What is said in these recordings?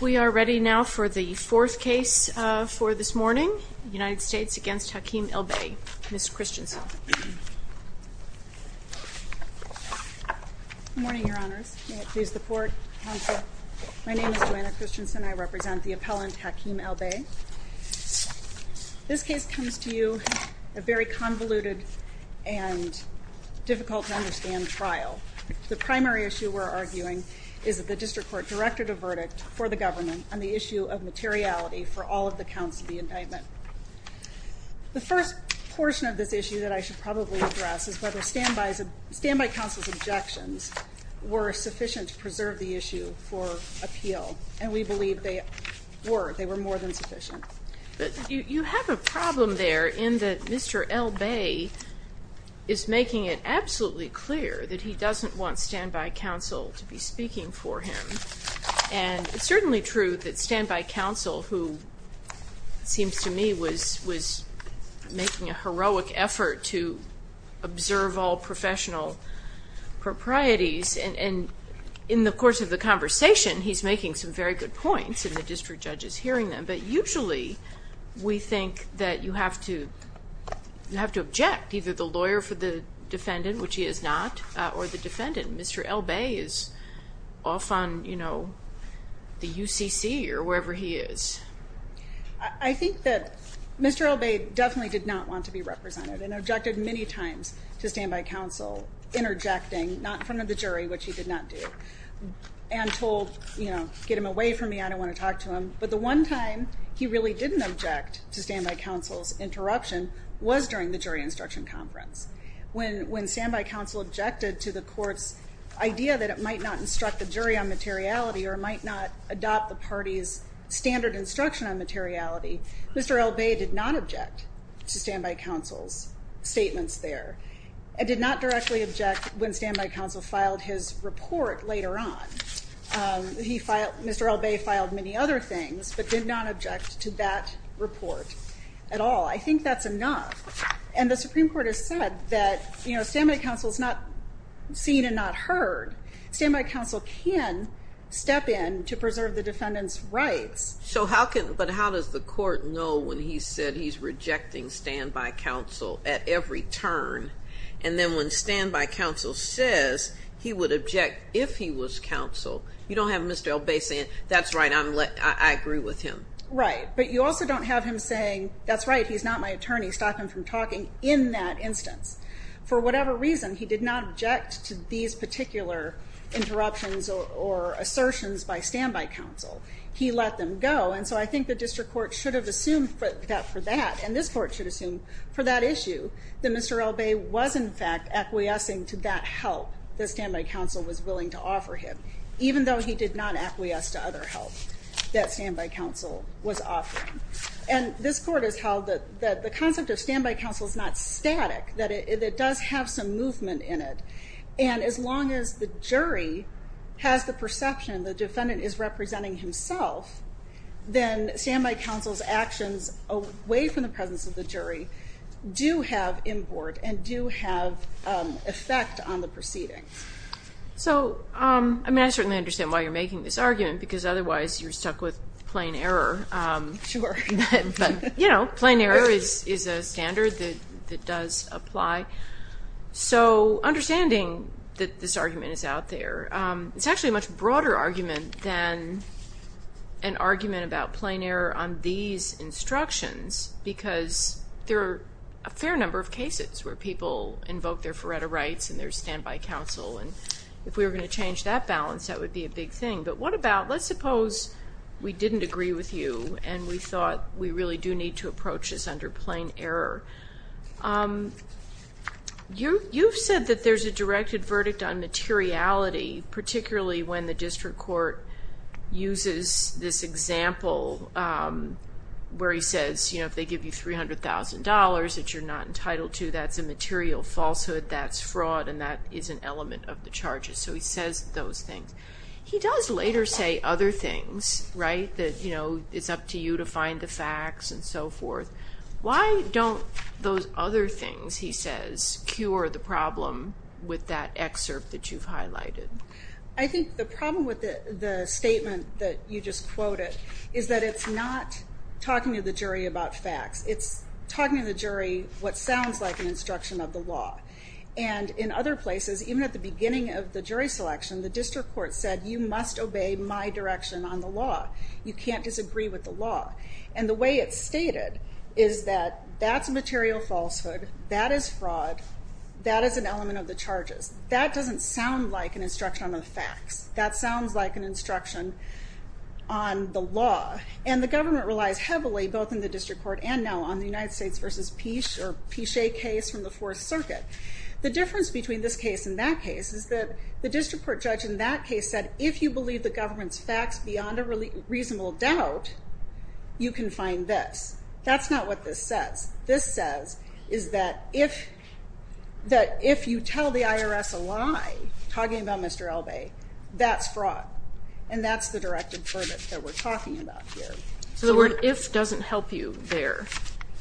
We are ready now for the fourth case for this morning. United States against Hakeem El-Bey. Ms. Christensen. Good morning, your honors. May it please the court, counsel. My name is Joanna Christensen. I represent the appellant Hakeem El-Bey. This case comes to you a very convoluted and difficult to understand trial. The primary issue we're arguing is that the district court directed a verdict for the government on the issue of materiality for all of the counts of the indictment. The first portion of this issue that I should probably address is whether standbys, standby counsel's objections, were sufficient to preserve the issue for appeal. And we believe they were. They were more than sufficient. But you have a problem there in that Mr. El-Bey is making it absolutely clear that he doesn't want standby counsel to be speaking for him. And it's certainly true that standby counsel, who seems to me was making a heroic effort to observe all professional proprieties. And in the course of the conversation, he's making some very good points and the district judge is hearing them. But usually we think that you have to object either the lawyer for the defendant, which he is not, or the defendant. Mr. El-Bey is off on, you know, the UCC or wherever he is. I think that Mr. El-Bey definitely did not want to be represented and objected many times to standby counsel interjecting, not in front of the jury, which he did not do. And told, you know, get him away from me. I don't want to talk to him. But the one time he really didn't object to standby counsel's interruption was during the jury instruction conference. When standby counsel objected to the court's idea that it might not instruct the jury on materiality or might not adopt the party's standard instruction on materiality, Mr. El-Bey did not object to standby counsel's statements there. And did not directly object when standby counsel filed his report later on. Mr. El-Bey filed many other things, but did not object. The Supreme Court has said that, you know, standby counsel is not seen and not heard. Standby counsel can step in to preserve the defendant's rights. So how can, but how does the court know when he said he's rejecting standby counsel at every turn? And then when standby counsel says he would object if he was counsel, you don't have Mr. El-Bey saying, that's right, I agree with him. Right. But you also don't have him saying, that's right, he's not my attorney. Stop him from talking in that instance. For whatever reason, he did not object to these particular interruptions or assertions by standby counsel. He let them go. And so I think the district court should have assumed that for that. And this court should assume for that issue that Mr. El-Bey was in fact acquiescing to that help that standby counsel was willing to offer him. Even though he did not acquiesce to other help that standby counsel was offering. And this court has held that the concept of standby counsel is not static, that it does have some movement in it. And as long as the jury has the perception the defendant is representing himself, then standby counsel's actions away from the presence of the jury do have import and do have effect on the proceedings. So, I mean, I certainly understand why you're making this argument, because otherwise you're stuck with plain error. Sure. You know, plain error is a standard that does apply. So understanding that this argument is out there, it's actually a much broader argument than an argument about plain error on these instructions, because there are a fair number of cases where people invoke their Faretta rights and their standby counsel. And if we were going to change that balance, that would be a big thing. But what about, let's suppose we didn't agree with you and we thought we really do need to approach this under plain error. You've said that there's a directed verdict on materiality, particularly when the district court uses this example where he says, you know, if they give you $300,000 that you're not entitled to, that's a material falsehood, that's fraud, and that is an element of the charges. So he says those things. He does later say other things, right? That, you know, it's up to you to find the facts and so forth. Why don't those other things, he says, cure the problem with that excerpt that you've highlighted? I think the problem with the statement that you just quoted is that it's not talking to the jury about facts. It's talking to the jury what sounds like an instruction of the law. And in other places, even at the beginning of the jury selection, the district court said you must obey my direction on the law. You can't disagree with the law. And the way it's stated is that that's material falsehood, that is fraud, that is an element of the charges. That doesn't sound like an instruction on the facts. That sounds like an instruction on the law. And the government relies heavily, both in the district court and now on the United States v. Pichet case from the Fourth Circuit. The difference between this case and that case is that the district court judge in that case said if you believe the government's facts beyond a reasonable doubt, you can find this. That's not what this says. This says is that if you tell the IRS a lie talking about Mr. Elbey, that's fraud. And that's the directive that we're talking about here. So the word if doesn't help you there.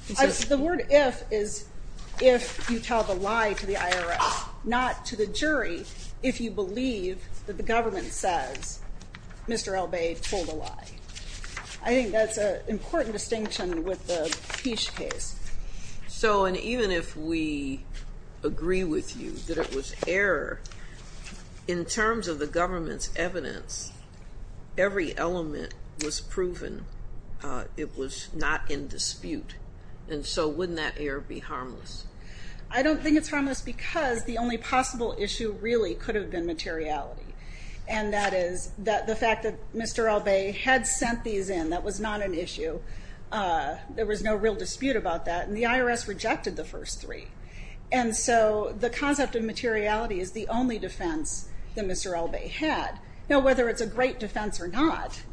The word if is if you tell the lie to the IRS, not to the jury, if you believe that the government says Mr. Elbey told a lie. I think that's an important distinction with the Pichet case. So and even if we agree with you that it was error, in terms of the government's evidence, every element was proven. It was not in dispute. And so wouldn't that error be harmless? I don't think it's harmless because the only possible issue really could have been materiality. And that is that the fact that Mr. Elbey had sent these in, that was not an issue. There was no real dispute about that. And the IRS rejected the first three. And so the concept of materiality is the only defense that Mr. Elbey had. Now whether it's a great defense or not,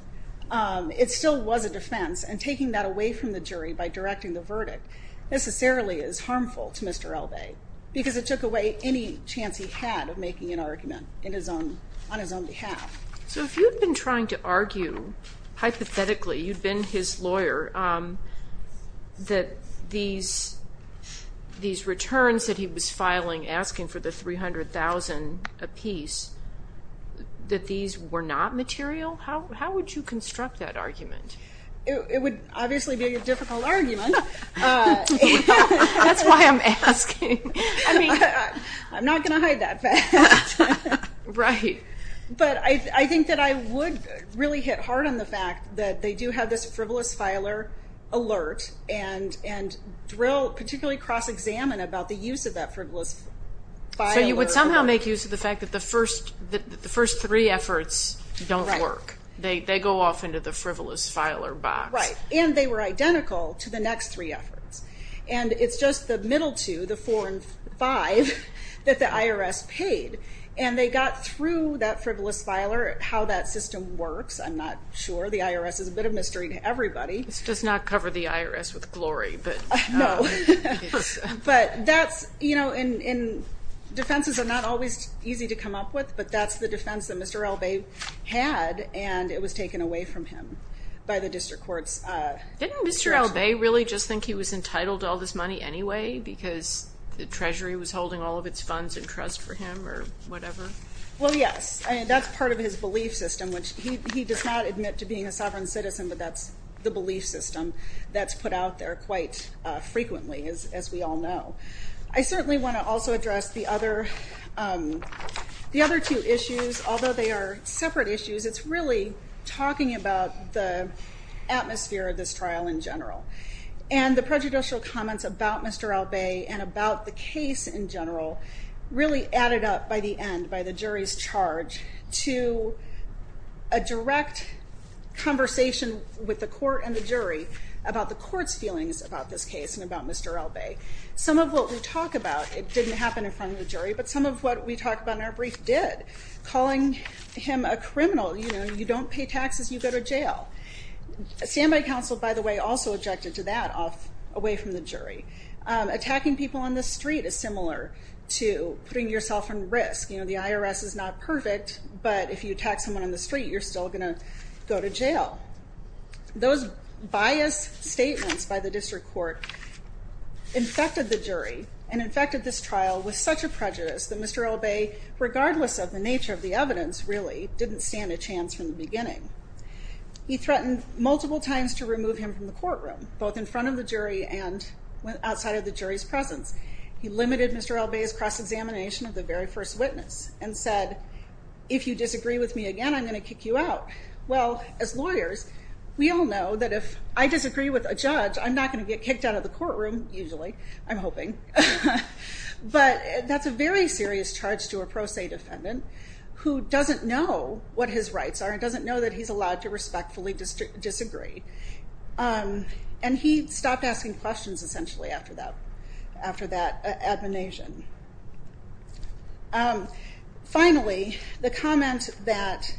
it still was a defense. And taking that away from the jury by directing the verdict necessarily is harmful to Mr. Elbey because it took away any chance he had of making an argument in his own, on his own behalf. So if you've been trying to argue, hypothetically, you'd been his lawyer, that these, these returns that he was filing asking for the 300,000 apiece, that these were not material? How would you construct that argument? It would obviously be a difficult argument. That's why I'm asking. I'm not going to hide that fact. Right. But I think that I would really hit hard on the fact that they do have this frivolous filer alert and, and drill, particularly cross-examine about the use of that frivolous filer. So you would somehow make use of the fact that the first, the first three efforts don't work. They, they go off into the frivolous filer box. Right. And they were identical to the next three efforts. And it's just the middle two, the four and five that the IRS paid. And they got through that frivolous filer, how that system works. I'm not sure. The IRS is a bit of mystery to everybody. This does not cover the IRS with glory, but. No. But that's, you know, and, and defenses are not always easy to come up with, but that's the defense that Mr. Elbey had. And it was taken away from him by the district courts. Didn't Mr. Elbey really just think he was entitled to all this money anyway, because the treasury was holding all of its funds in trust for him or whatever? Well, yes. And that's part of his belief system, which he does not admit to being a sovereign citizen, but that's the belief system that's put out there quite frequently, as we all know. I certainly want to also address the other, the other two issues, although they are separate issues, it's really talking about the atmosphere of this trial in general and the prejudicial comments about Mr. Elbey and about the case in general really added up by the end, by the jury's charge to a direct conversation with the court and the jury about the court's feelings about this case and about Mr. Elbey. Some of what we talk about, it didn't happen in front of the jury, but some of what we talked about in our brief did. Calling him a criminal, you know, you don't pay taxes, you go to jail. A standby counsel, by the way, also objected to that off away from the jury. Attacking people on the street is similar to putting yourself in risk. You know, the IRS is not perfect, but if you attack someone on the street, you're still going to go to jail. Those biased statements by the district court infected the jury and infected this trial with such a prejudice that Mr. Elbey, regardless of the nature of the evidence, really didn't stand a chance from the beginning. He threatened multiple times to remove him from the courtroom, both in front of the jury and outside of the jury's presence. He limited Mr. Elbey's cross-examination of the very first witness and said, if you disagree with me again, I'm going to kick you out. Well, as lawyers, we all know that if I disagree with a judge, I'm not going to get kicked out of the courtroom, usually. I'm hoping. But that's a very serious charge to a pro se defendant who doesn't know what his rights are and doesn't know that he's allowed to respectfully disagree. And he stopped asking questions, essentially, after that admonition. Finally, the comment that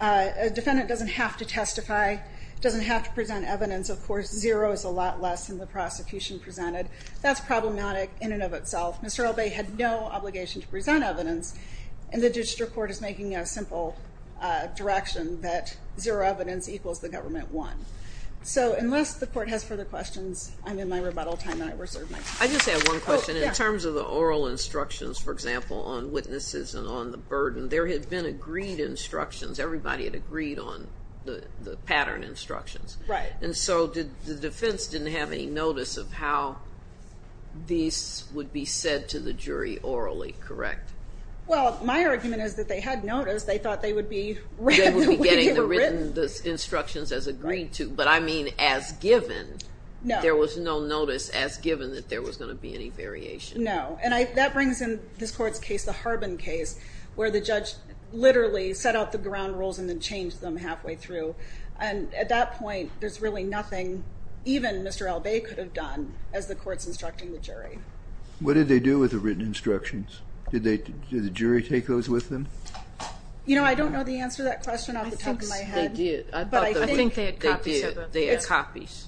a defendant doesn't have to testify, doesn't have to present evidence, of course, zero is a lot less than the prosecution presented. That's problematic in and of itself. Mr. Elbey had no obligation to present evidence, and the district court is making a simple direction that zero evidence equals the government won. So, unless the court has further questions, I'm in my rebuttal time and I reserve my time. I just have one question. In terms of the oral instructions, for example, on witnesses and on the burden, there had been agreed instructions. Everybody had agreed on the pattern instructions. Right. And so the defense didn't have any notice of how these would be said to the jury orally, correct? Well, my argument is that they had noticed. They thought they would be getting the written instructions as agreed to. But I mean, as given, there was no notice as given that there was going to be any variation. No. And that brings in this court's case, the Harbin case, where the judge literally set out the ground rules and then changed them halfway through. And at that point, there's really nothing even Mr. Elbey could have done as the court's instructing the jury. What did they do with the written instructions? Did the jury take those with them? You know, I don't know the answer to that question off the top of my head. They did. But I think they had copies.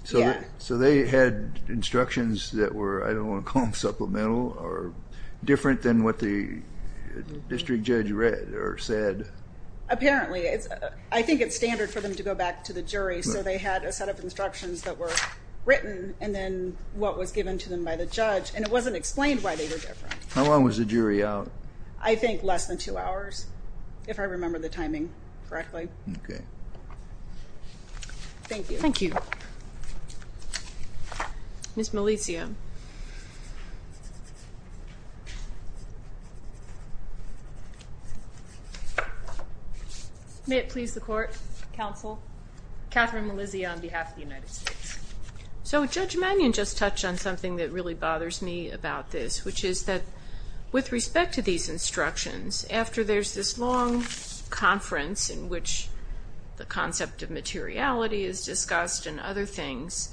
So they had instructions that were, I don't want to call them supplemental, or different than what the district judge read or said. Apparently. I think it's standard for them to go back to the jury. So they had a set of instructions that were written and then what was given to them by the judge. And it wasn't explained why they were different. How long was the jury out? I think less than two hours, if I remember the timing correctly. Okay. Thank you. Thank you. Ms. Melizia. May it please the court. Counsel. Catherine Melizia on behalf of the United States. So Judge Mannion just touched on something that really bothers me about this, which is that with respect to these instructions, after there's this long conference in which the concept of materiality is discussed and other things,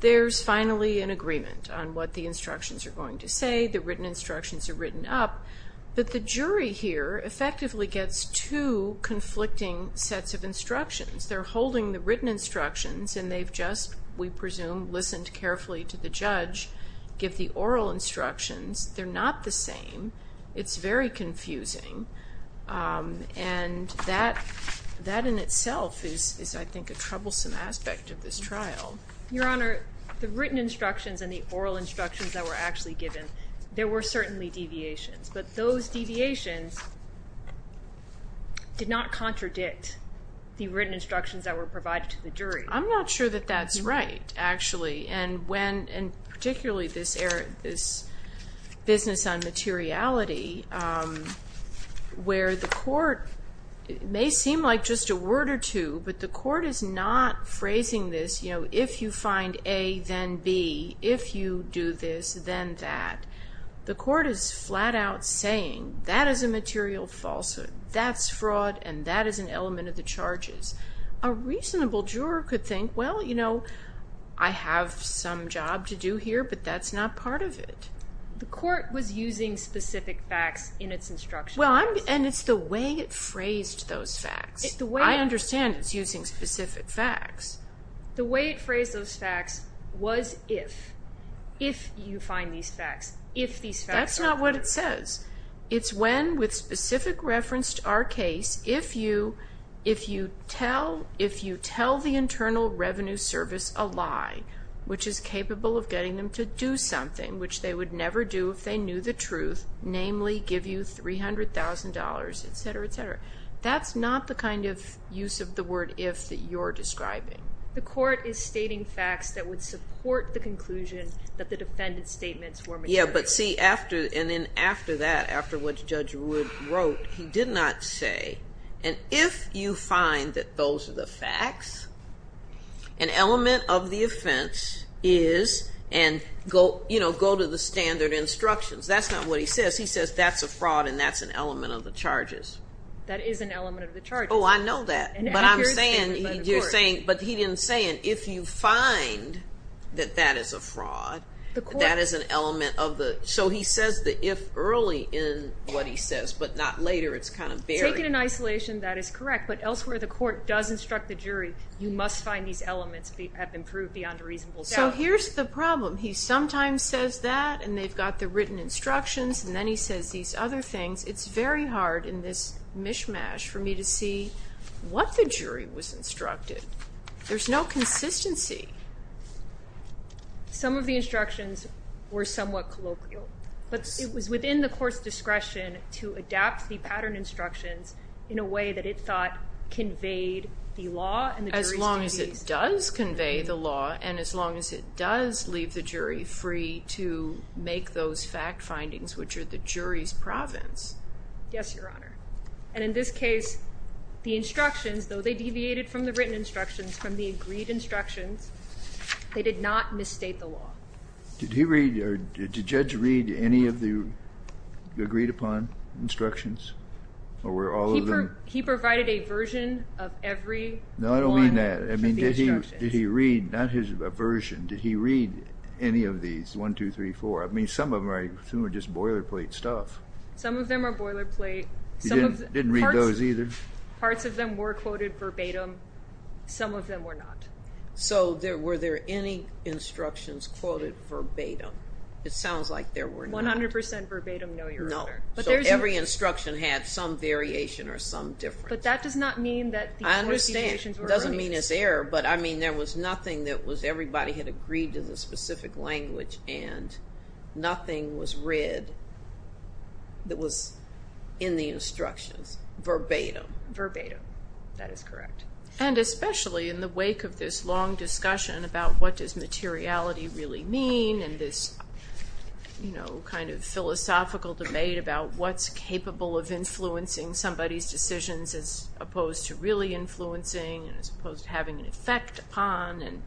there's finally an agreement on what the instructions are going to say. The written instructions are written up. But the jury here effectively gets two conflicting sets of instructions. They're holding the written instructions and they've just, we It's very confusing. And that in itself is, I think, a troublesome aspect of this trial. Your Honor, the written instructions and the oral instructions that were actually given, there were certainly deviations, but those deviations did not contradict the written instructions that were provided to the jury. I'm not sure that that's right, actually. And when, and particularly this business on materiality, where the court, it may seem like just a word or two, but the court is not phrasing this, you know, if you find A, then B, if you do this, then that. The court is flat out saying that is a material falsehood. That's fraud. And that is an element of the charges. A reasonable juror could think, well, you know, I have some job to do here, but that's not part of it. The court was using specific facts in its instructions. And it's the way it phrased those facts. I understand it's using specific facts. The way it phrased those facts was if. If you find these facts. If these facts are false. That's not what it says. It's when, with specific reference to our case, if you tell the Internal Revenue Service a lie, which is capable of getting them to do something, which they would never do if they knew the truth, namely give you $300,000, etc., etc. That's not the kind of use of the word if that you're describing. The court is stating facts that would support the conclusion that the defendant's statements were material. Yeah, but see after, and then after that, after what Judge Wood wrote, he did not say, and if you find that those are the facts, an element of the offense is, and go, you know, go to the standard instructions. That's not what he says. He says that's a fraud and that's an element of the charges. That is an element of the charges. Oh, I know that. But I'm saying, you're saying, but he didn't say it. If you find that that is a fraud, that is an element of the, so he says the if early in what he says, but not later, it's kind of buried. Taken in isolation, that is correct, but elsewhere the jury, you must find these elements have improved beyond a reasonable doubt. So here's the problem. He sometimes says that, and they've got the written instructions, and then he says these other things. It's very hard in this mishmash for me to see what the jury was instructed. There's no consistency. Some of the instructions were somewhat colloquial, but it was within the law. As long as it does convey the law, and as long as it does leave the jury free to make those fact findings, which are the jury's province. Yes, Your Honor. And in this case, the instructions, though they deviated from the written instructions, from the agreed instructions, they did not misstate the law. Did he read, or did Judge read any of the agreed upon instructions, or were all of them? He provided a version of every one. No, I don't mean that. I mean, did he read, not his version, did he read any of these, one, two, three, four? I mean, some of them are just boilerplate stuff. Some of them are boilerplate. He didn't read those either? Parts of them were quoted verbatim. Some of them were not. So were there any instructions quoted verbatim? It sounds like there were not. 100% verbatim, no, Your Honor. No. So every instruction had some variation or some difference. But that does not mean that the quotations were erased. I understand. It doesn't mean it's error, but I mean, there was nothing that was, everybody had agreed to the specific language, and nothing was read that was in the instructions verbatim. Verbatim, that is correct. And especially in the wake of this long discussion about what does materiality really mean, and this philosophical debate about what's capable of influencing somebody's decisions as opposed to really influencing, as opposed to having an effect upon.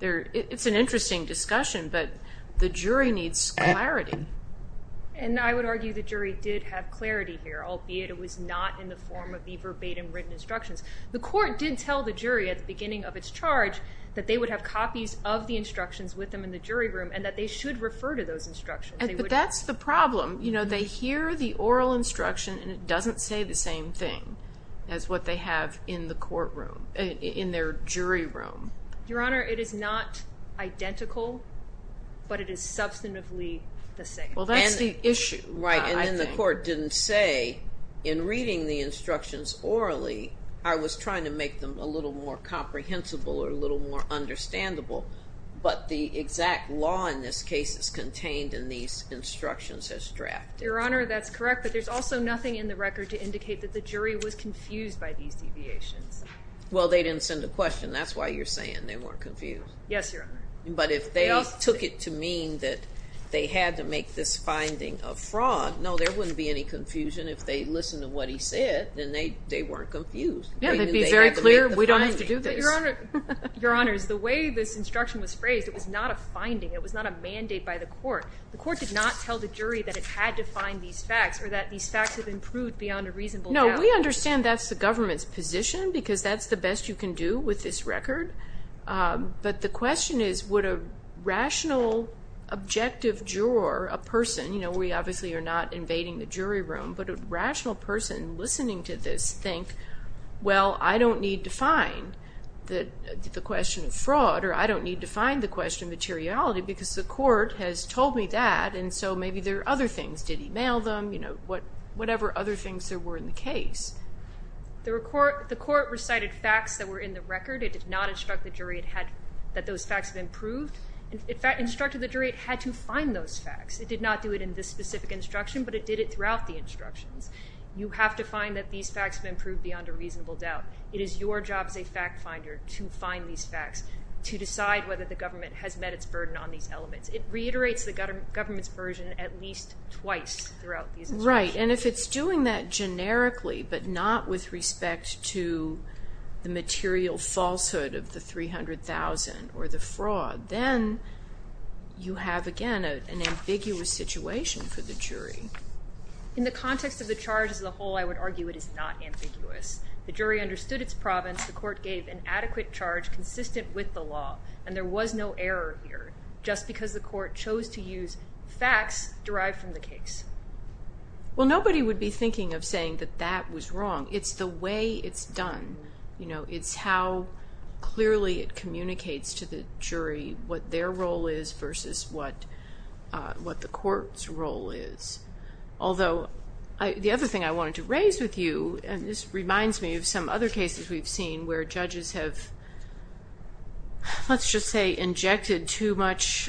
It's an interesting discussion, but the jury needs clarity. And I would argue the jury did have clarity here, albeit it was not in the verbatim written instructions. The court did tell the jury at the beginning of its charge that they would have copies of the instructions with them in the jury room, and that they should refer to those instructions. But that's the problem. You know, they hear the oral instruction, and it doesn't say the same thing as what they have in the courtroom, in their jury room. Your Honor, it is not identical, but it is substantively the same. Well, that's the issue. Right, and then the court didn't say in reading the instructions orally, I was trying to make them a little more comprehensible or a little more understandable, but the exact law in this case is contained in these instructions as drafted. Your Honor, that's correct, but there's also nothing in the record to indicate that the jury was confused by these deviations. Well, they didn't send a question, that's why you're saying they weren't confused. Yes, Your Honor. But if they took it to mean that they had to make this listen to what he said, then they weren't confused. Yeah, they'd be very clear, we don't have to do this. Your Honor, the way this instruction was phrased, it was not a finding, it was not a mandate by the court. The court did not tell the jury that it had to find these facts or that these facts have improved beyond a reasonable doubt. No, we understand that's the government's position because that's the best you can do with this record, but the question is would a rational, objective juror, a person, you know, we obviously are not listening to this, think, well, I don't need to find the question of fraud or I don't need to find the question of materiality because the court has told me that and so maybe there are other things, did he mail them, you know, whatever other things there were in the case. The court recited facts that were in the record, it did not instruct the jury that those facts have improved. In fact, instructed the jury it had to find those facts. It did not do it in this specific instruction, but it did it throughout the instructions. You have to find that these facts have improved beyond a reasonable doubt. It is your job as a fact finder to find these facts, to decide whether the government has met its burden on these elements. It reiterates the government's version at least twice throughout these instructions. Right, and if it's doing that generically but not with respect to the material falsehood of the $300,000 or the fraud, then you have again an ambiguous situation for the jury. In the context of the charge as a whole, I would argue it is not ambiguous. The jury understood its province. The court gave an adequate charge consistent with the law and there was no error here just because the court chose to use facts derived from the case. Well, nobody would be thinking of saying that that was wrong. It's the way it's done. It's how clearly it communicates to the jury what their role is versus what the court's role is. Although, the other thing I wanted to raise with you, and this reminds me of some other cases we've seen where judges have, let's just say, injected too much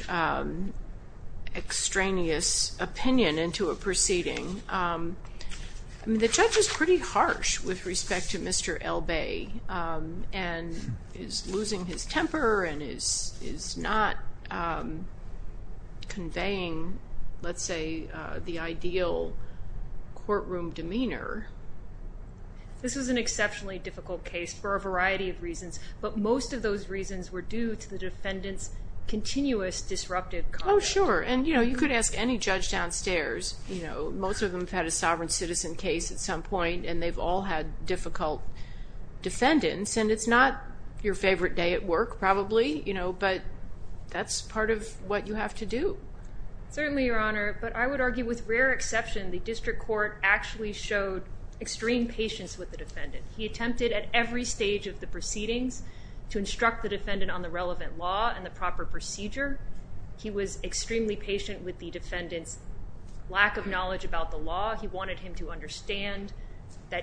extraneous opinion into a proceeding. The judge is pretty harsh with respect to Mr. Elbae and is losing his temper and is not conveying, let's say, the ideal courtroom demeanor. This was an exceptionally difficult case for a variety of reasons, but most of those reasons were due to the defendant's continuous disruptive comments. Oh, sure. You could ask any judge downstairs. Most of them have had a sovereign citizen case at some point and they've all had difficult defendants. It's not your favorite day at work, probably, but that's part of what you have to do. Certainly, Your Honor, but I would argue with rare exception the district court actually showed extreme patience with the defendant. He attempted at every stage of the relevant law and the proper procedure. He was extremely patient with the defendant's lack of knowledge about the law. He wanted him to understand the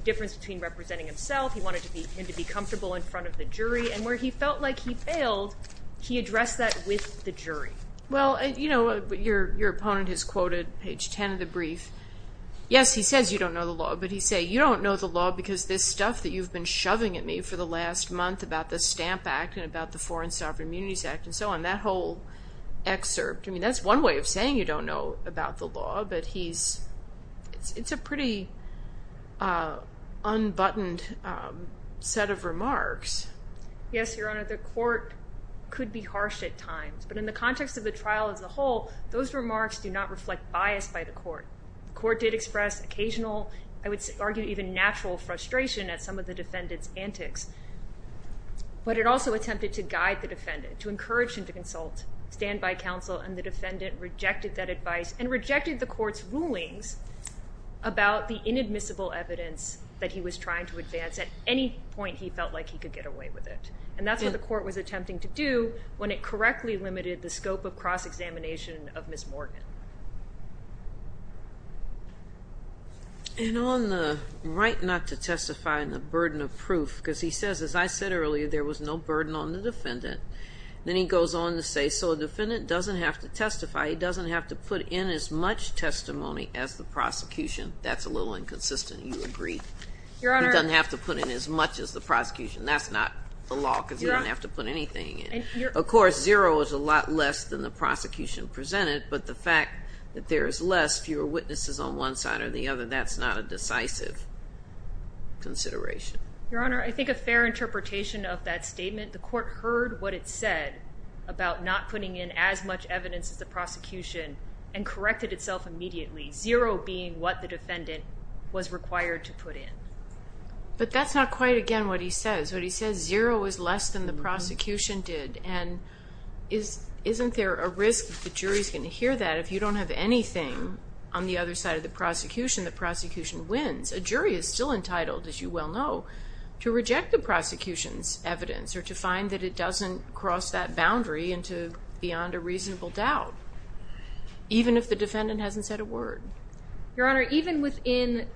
difference between representing himself. He wanted him to be comfortable in front of the jury. Where he felt like he failed, he addressed that with the jury. Your opponent has quoted page 10 of the brief. Yes, he says you don't know the law, but he says, you don't know the law because this stuff that you've been about the Foreign Sovereign Immunities Act and so on. That whole excerpt, I mean, that's one way of saying you don't know about the law, but he's, it's a pretty unbuttoned set of remarks. Yes, Your Honor, the court could be harsh at times, but in the context of the trial as a whole, those remarks do not reflect bias by the court. The court did express occasional, I would argue even natural frustration at some of the defendant's antics, but it also attempted to guide the defendant, to encourage him to consult, stand by counsel, and the defendant rejected that advice and rejected the court's rulings about the inadmissible evidence that he was trying to advance at any point he felt like he could get away with it. And that's what the court was attempting to do when it correctly limited the scope of cross-examination of Ms. Morgan. And on the right not to testify and the burden of proof, because he says, as I said earlier, there was no burden on the defendant. Then he goes on to say, so the defendant doesn't have to testify. He doesn't have to put in as much testimony as the prosecution. That's a little inconsistent. You agree. Your Honor. He doesn't have to put in as much as the prosecution. That's not the law because you don't have to put anything in. Of course, zero is a lot less than the fact that there is less, fewer witnesses on one side or the other. That's not a decisive consideration. Your Honor, I think a fair interpretation of that statement. The court heard what it said about not putting in as much evidence as the prosecution and corrected itself immediately. Zero being what the defendant was required to put in. But that's not quite again what he says. What he says, zero is less than the prosecution did. And isn't there a risk the jury's going to hear that if you don't have anything on the other side of the prosecution, the prosecution wins? A jury is still entitled, as you well know, to reject the prosecution's evidence or to find that it doesn't cross that boundary into beyond a reasonable doubt, even if the defendant hasn't said a word. Your Honor, even within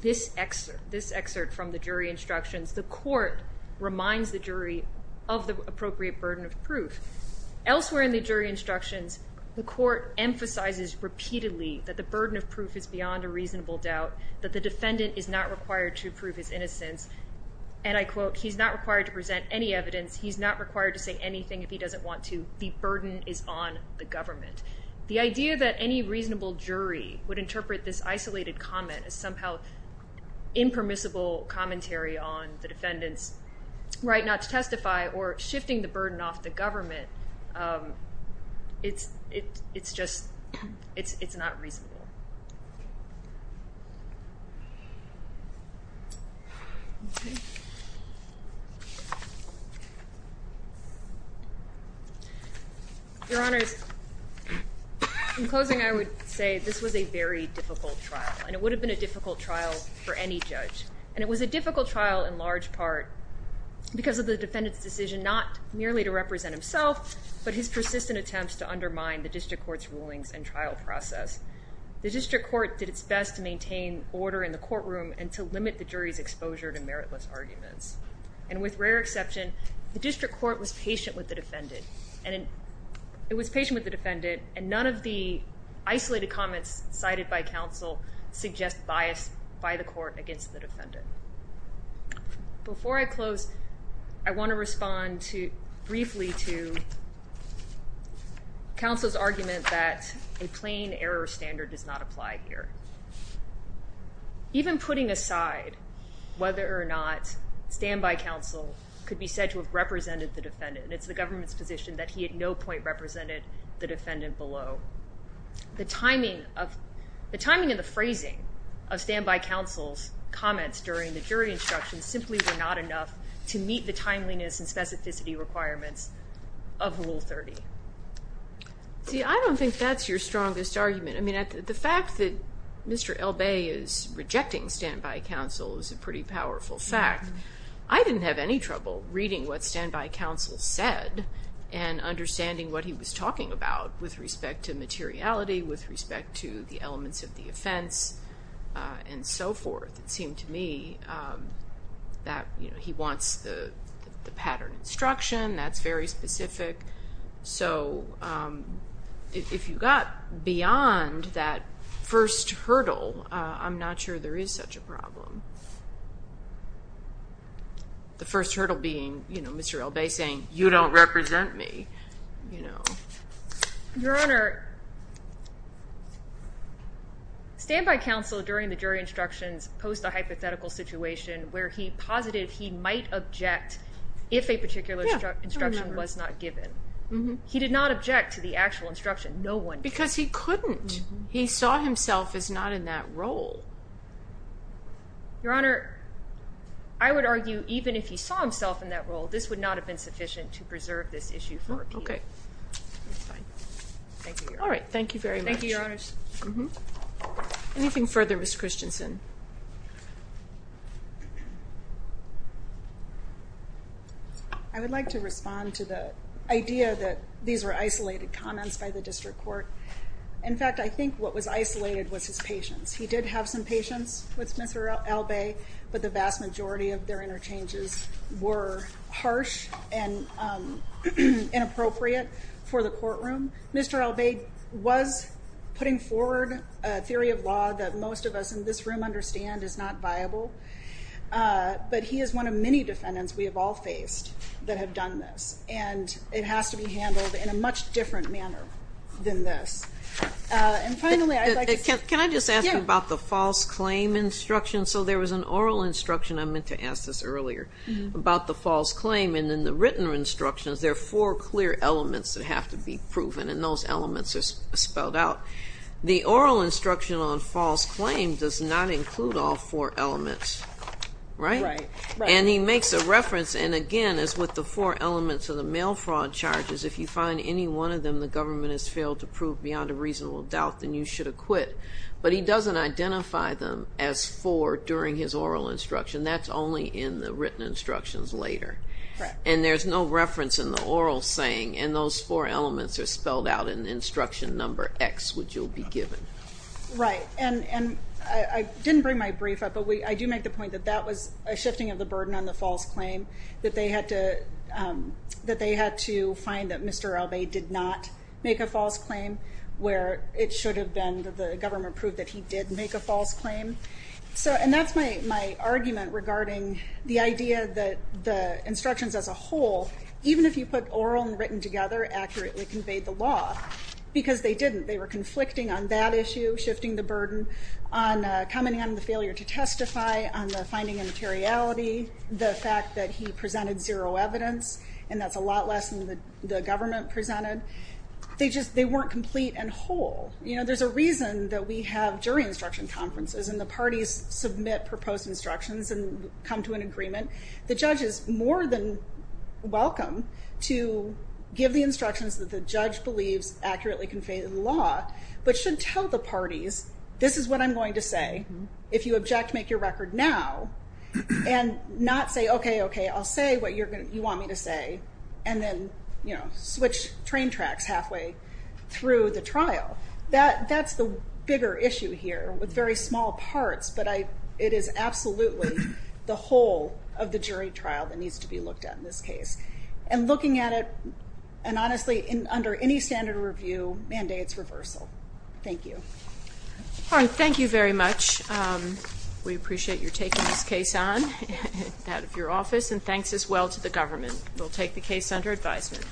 this excerpt, this excerpt from the jury instructions, the court reminds the jury of the appropriate burden of proof. Elsewhere in the jury instructions, the court emphasizes repeatedly that the burden of proof is beyond a reasonable doubt, that the defendant is not required to prove his innocence. And I quote, he's not required to present any evidence. He's not required to say anything if he doesn't want to. The burden is on the government. The idea that any reasonable jury would interpret this isolated comment as somehow impermissible commentary on the defendant's right not to present, it's not reasonable. Your Honors, in closing, I would say this was a very difficult trial. And it would have been a difficult trial for any judge. And it was a difficult trial in but his persistent attempts to undermine the district court's rulings and trial process. The district court did its best to maintain order in the courtroom and to limit the jury's exposure to meritless arguments. And with rare exception, the district court was patient with the defendant. And it was patient with the defendant. And none of the isolated comments cited by counsel suggest bias by the court against the defendant. Before I close, I want to respond briefly to counsel's argument that a plain error standard does not apply here. Even putting aside whether or not standby counsel could be said to have represented the defendant, and it's the government's position that he at no point represented the defendant below, the timing and the phrasing of standby counsel's comments during the jury instruction simply were not enough to meet the timeliness and specificity requirements of Rule 30. See, I don't think that's your strongest argument. I mean, the fact that Mr. L. Bay is rejecting standby counsel is a pretty powerful fact. I didn't have any trouble reading what standby counsel said and understanding what he was talking about with respect to materiality, with respect to the elements of the offense, and so forth. It seemed to me that he wants the pattern instruction. That's very specific. So if you got beyond that first hurdle, I'm not sure there is such a problem. The first hurdle being Mr. L. Bay saying, you don't represent me, you know. Your Honor, standby counsel during the jury instructions posed a hypothetical situation where he posited he might object if a particular instruction was not given. He did not object to the actual instruction. No one did. Because he couldn't. He saw himself as not in that role. Your Honor, I would argue even if he saw himself in that role, this would not have been sufficient to preserve this issue for appeal. Okay. All right. Thank you very much. Thank you, Your Honors. Anything further, Ms. Christensen? I would like to respond to the idea that these were isolated comments by the district court. In fact, I think what was isolated was his patience. He did have some patience with Mr. L. Bay, but the vast majority of their interchanges were harsh and inappropriate for the courtroom. Mr. L. Bay was putting forward a theory of law that most of us in this room understand is not viable. But he is one of many defendants we have all faced that have done this. And it has to be handled in a much different manner than this. And finally, I'd like to... I meant to ask this earlier about the false claim. And in the written instructions, there are four clear elements that have to be proven. And those elements are spelled out. The oral instruction on false claim does not include all four elements. Right? Right. Right. And he makes a reference. And again, as with the four elements of the mail fraud charges, if you find any one of them the government has failed to prove beyond a reasonable doubt, then you should acquit. But he doesn't identify them as four during his oral instruction. That's only in the written instructions later. And there's no reference in the oral saying. And those four elements are spelled out in instruction number X, which you'll be given. Right. And I didn't bring my brief up, but I do make the point that that was a shifting of the burden on the false claim, that they had to find that Mr. L. Bay did not make a false claim where it should have been that the government proved that he did make a false claim. So, and that's my argument regarding the idea that the instructions as a whole, even if you put oral and written together accurately conveyed the law, because they didn't. They were conflicting on that issue, shifting the burden on commenting on the failure to testify, on the finding of materiality, the fact that he presented zero evidence, and that's a lot less than the government presented. They just, they weren't complete and whole. You know, there's a reason that we have jury instruction conferences and the parties submit proposed instructions and come to an agreement. The judge is more than welcome to give the instructions that the judge believes accurately conveyed the law, but should tell the parties, this is what I'm going to say. If you object, make your record now and not say, okay, okay, I'll say what you're going to, you want me to say, and then, you know, switch train tracks halfway through the trial. That's the bigger issue here with very small parts, but it is absolutely the whole of the jury trial that needs to be looked at in this case. And looking at it, and honestly, under any standard review, mandate's reversal. Thank you. All right, thank you very much. We appreciate your taking this case on, out of your office, and thanks as well to the government. We'll take the case under advisement.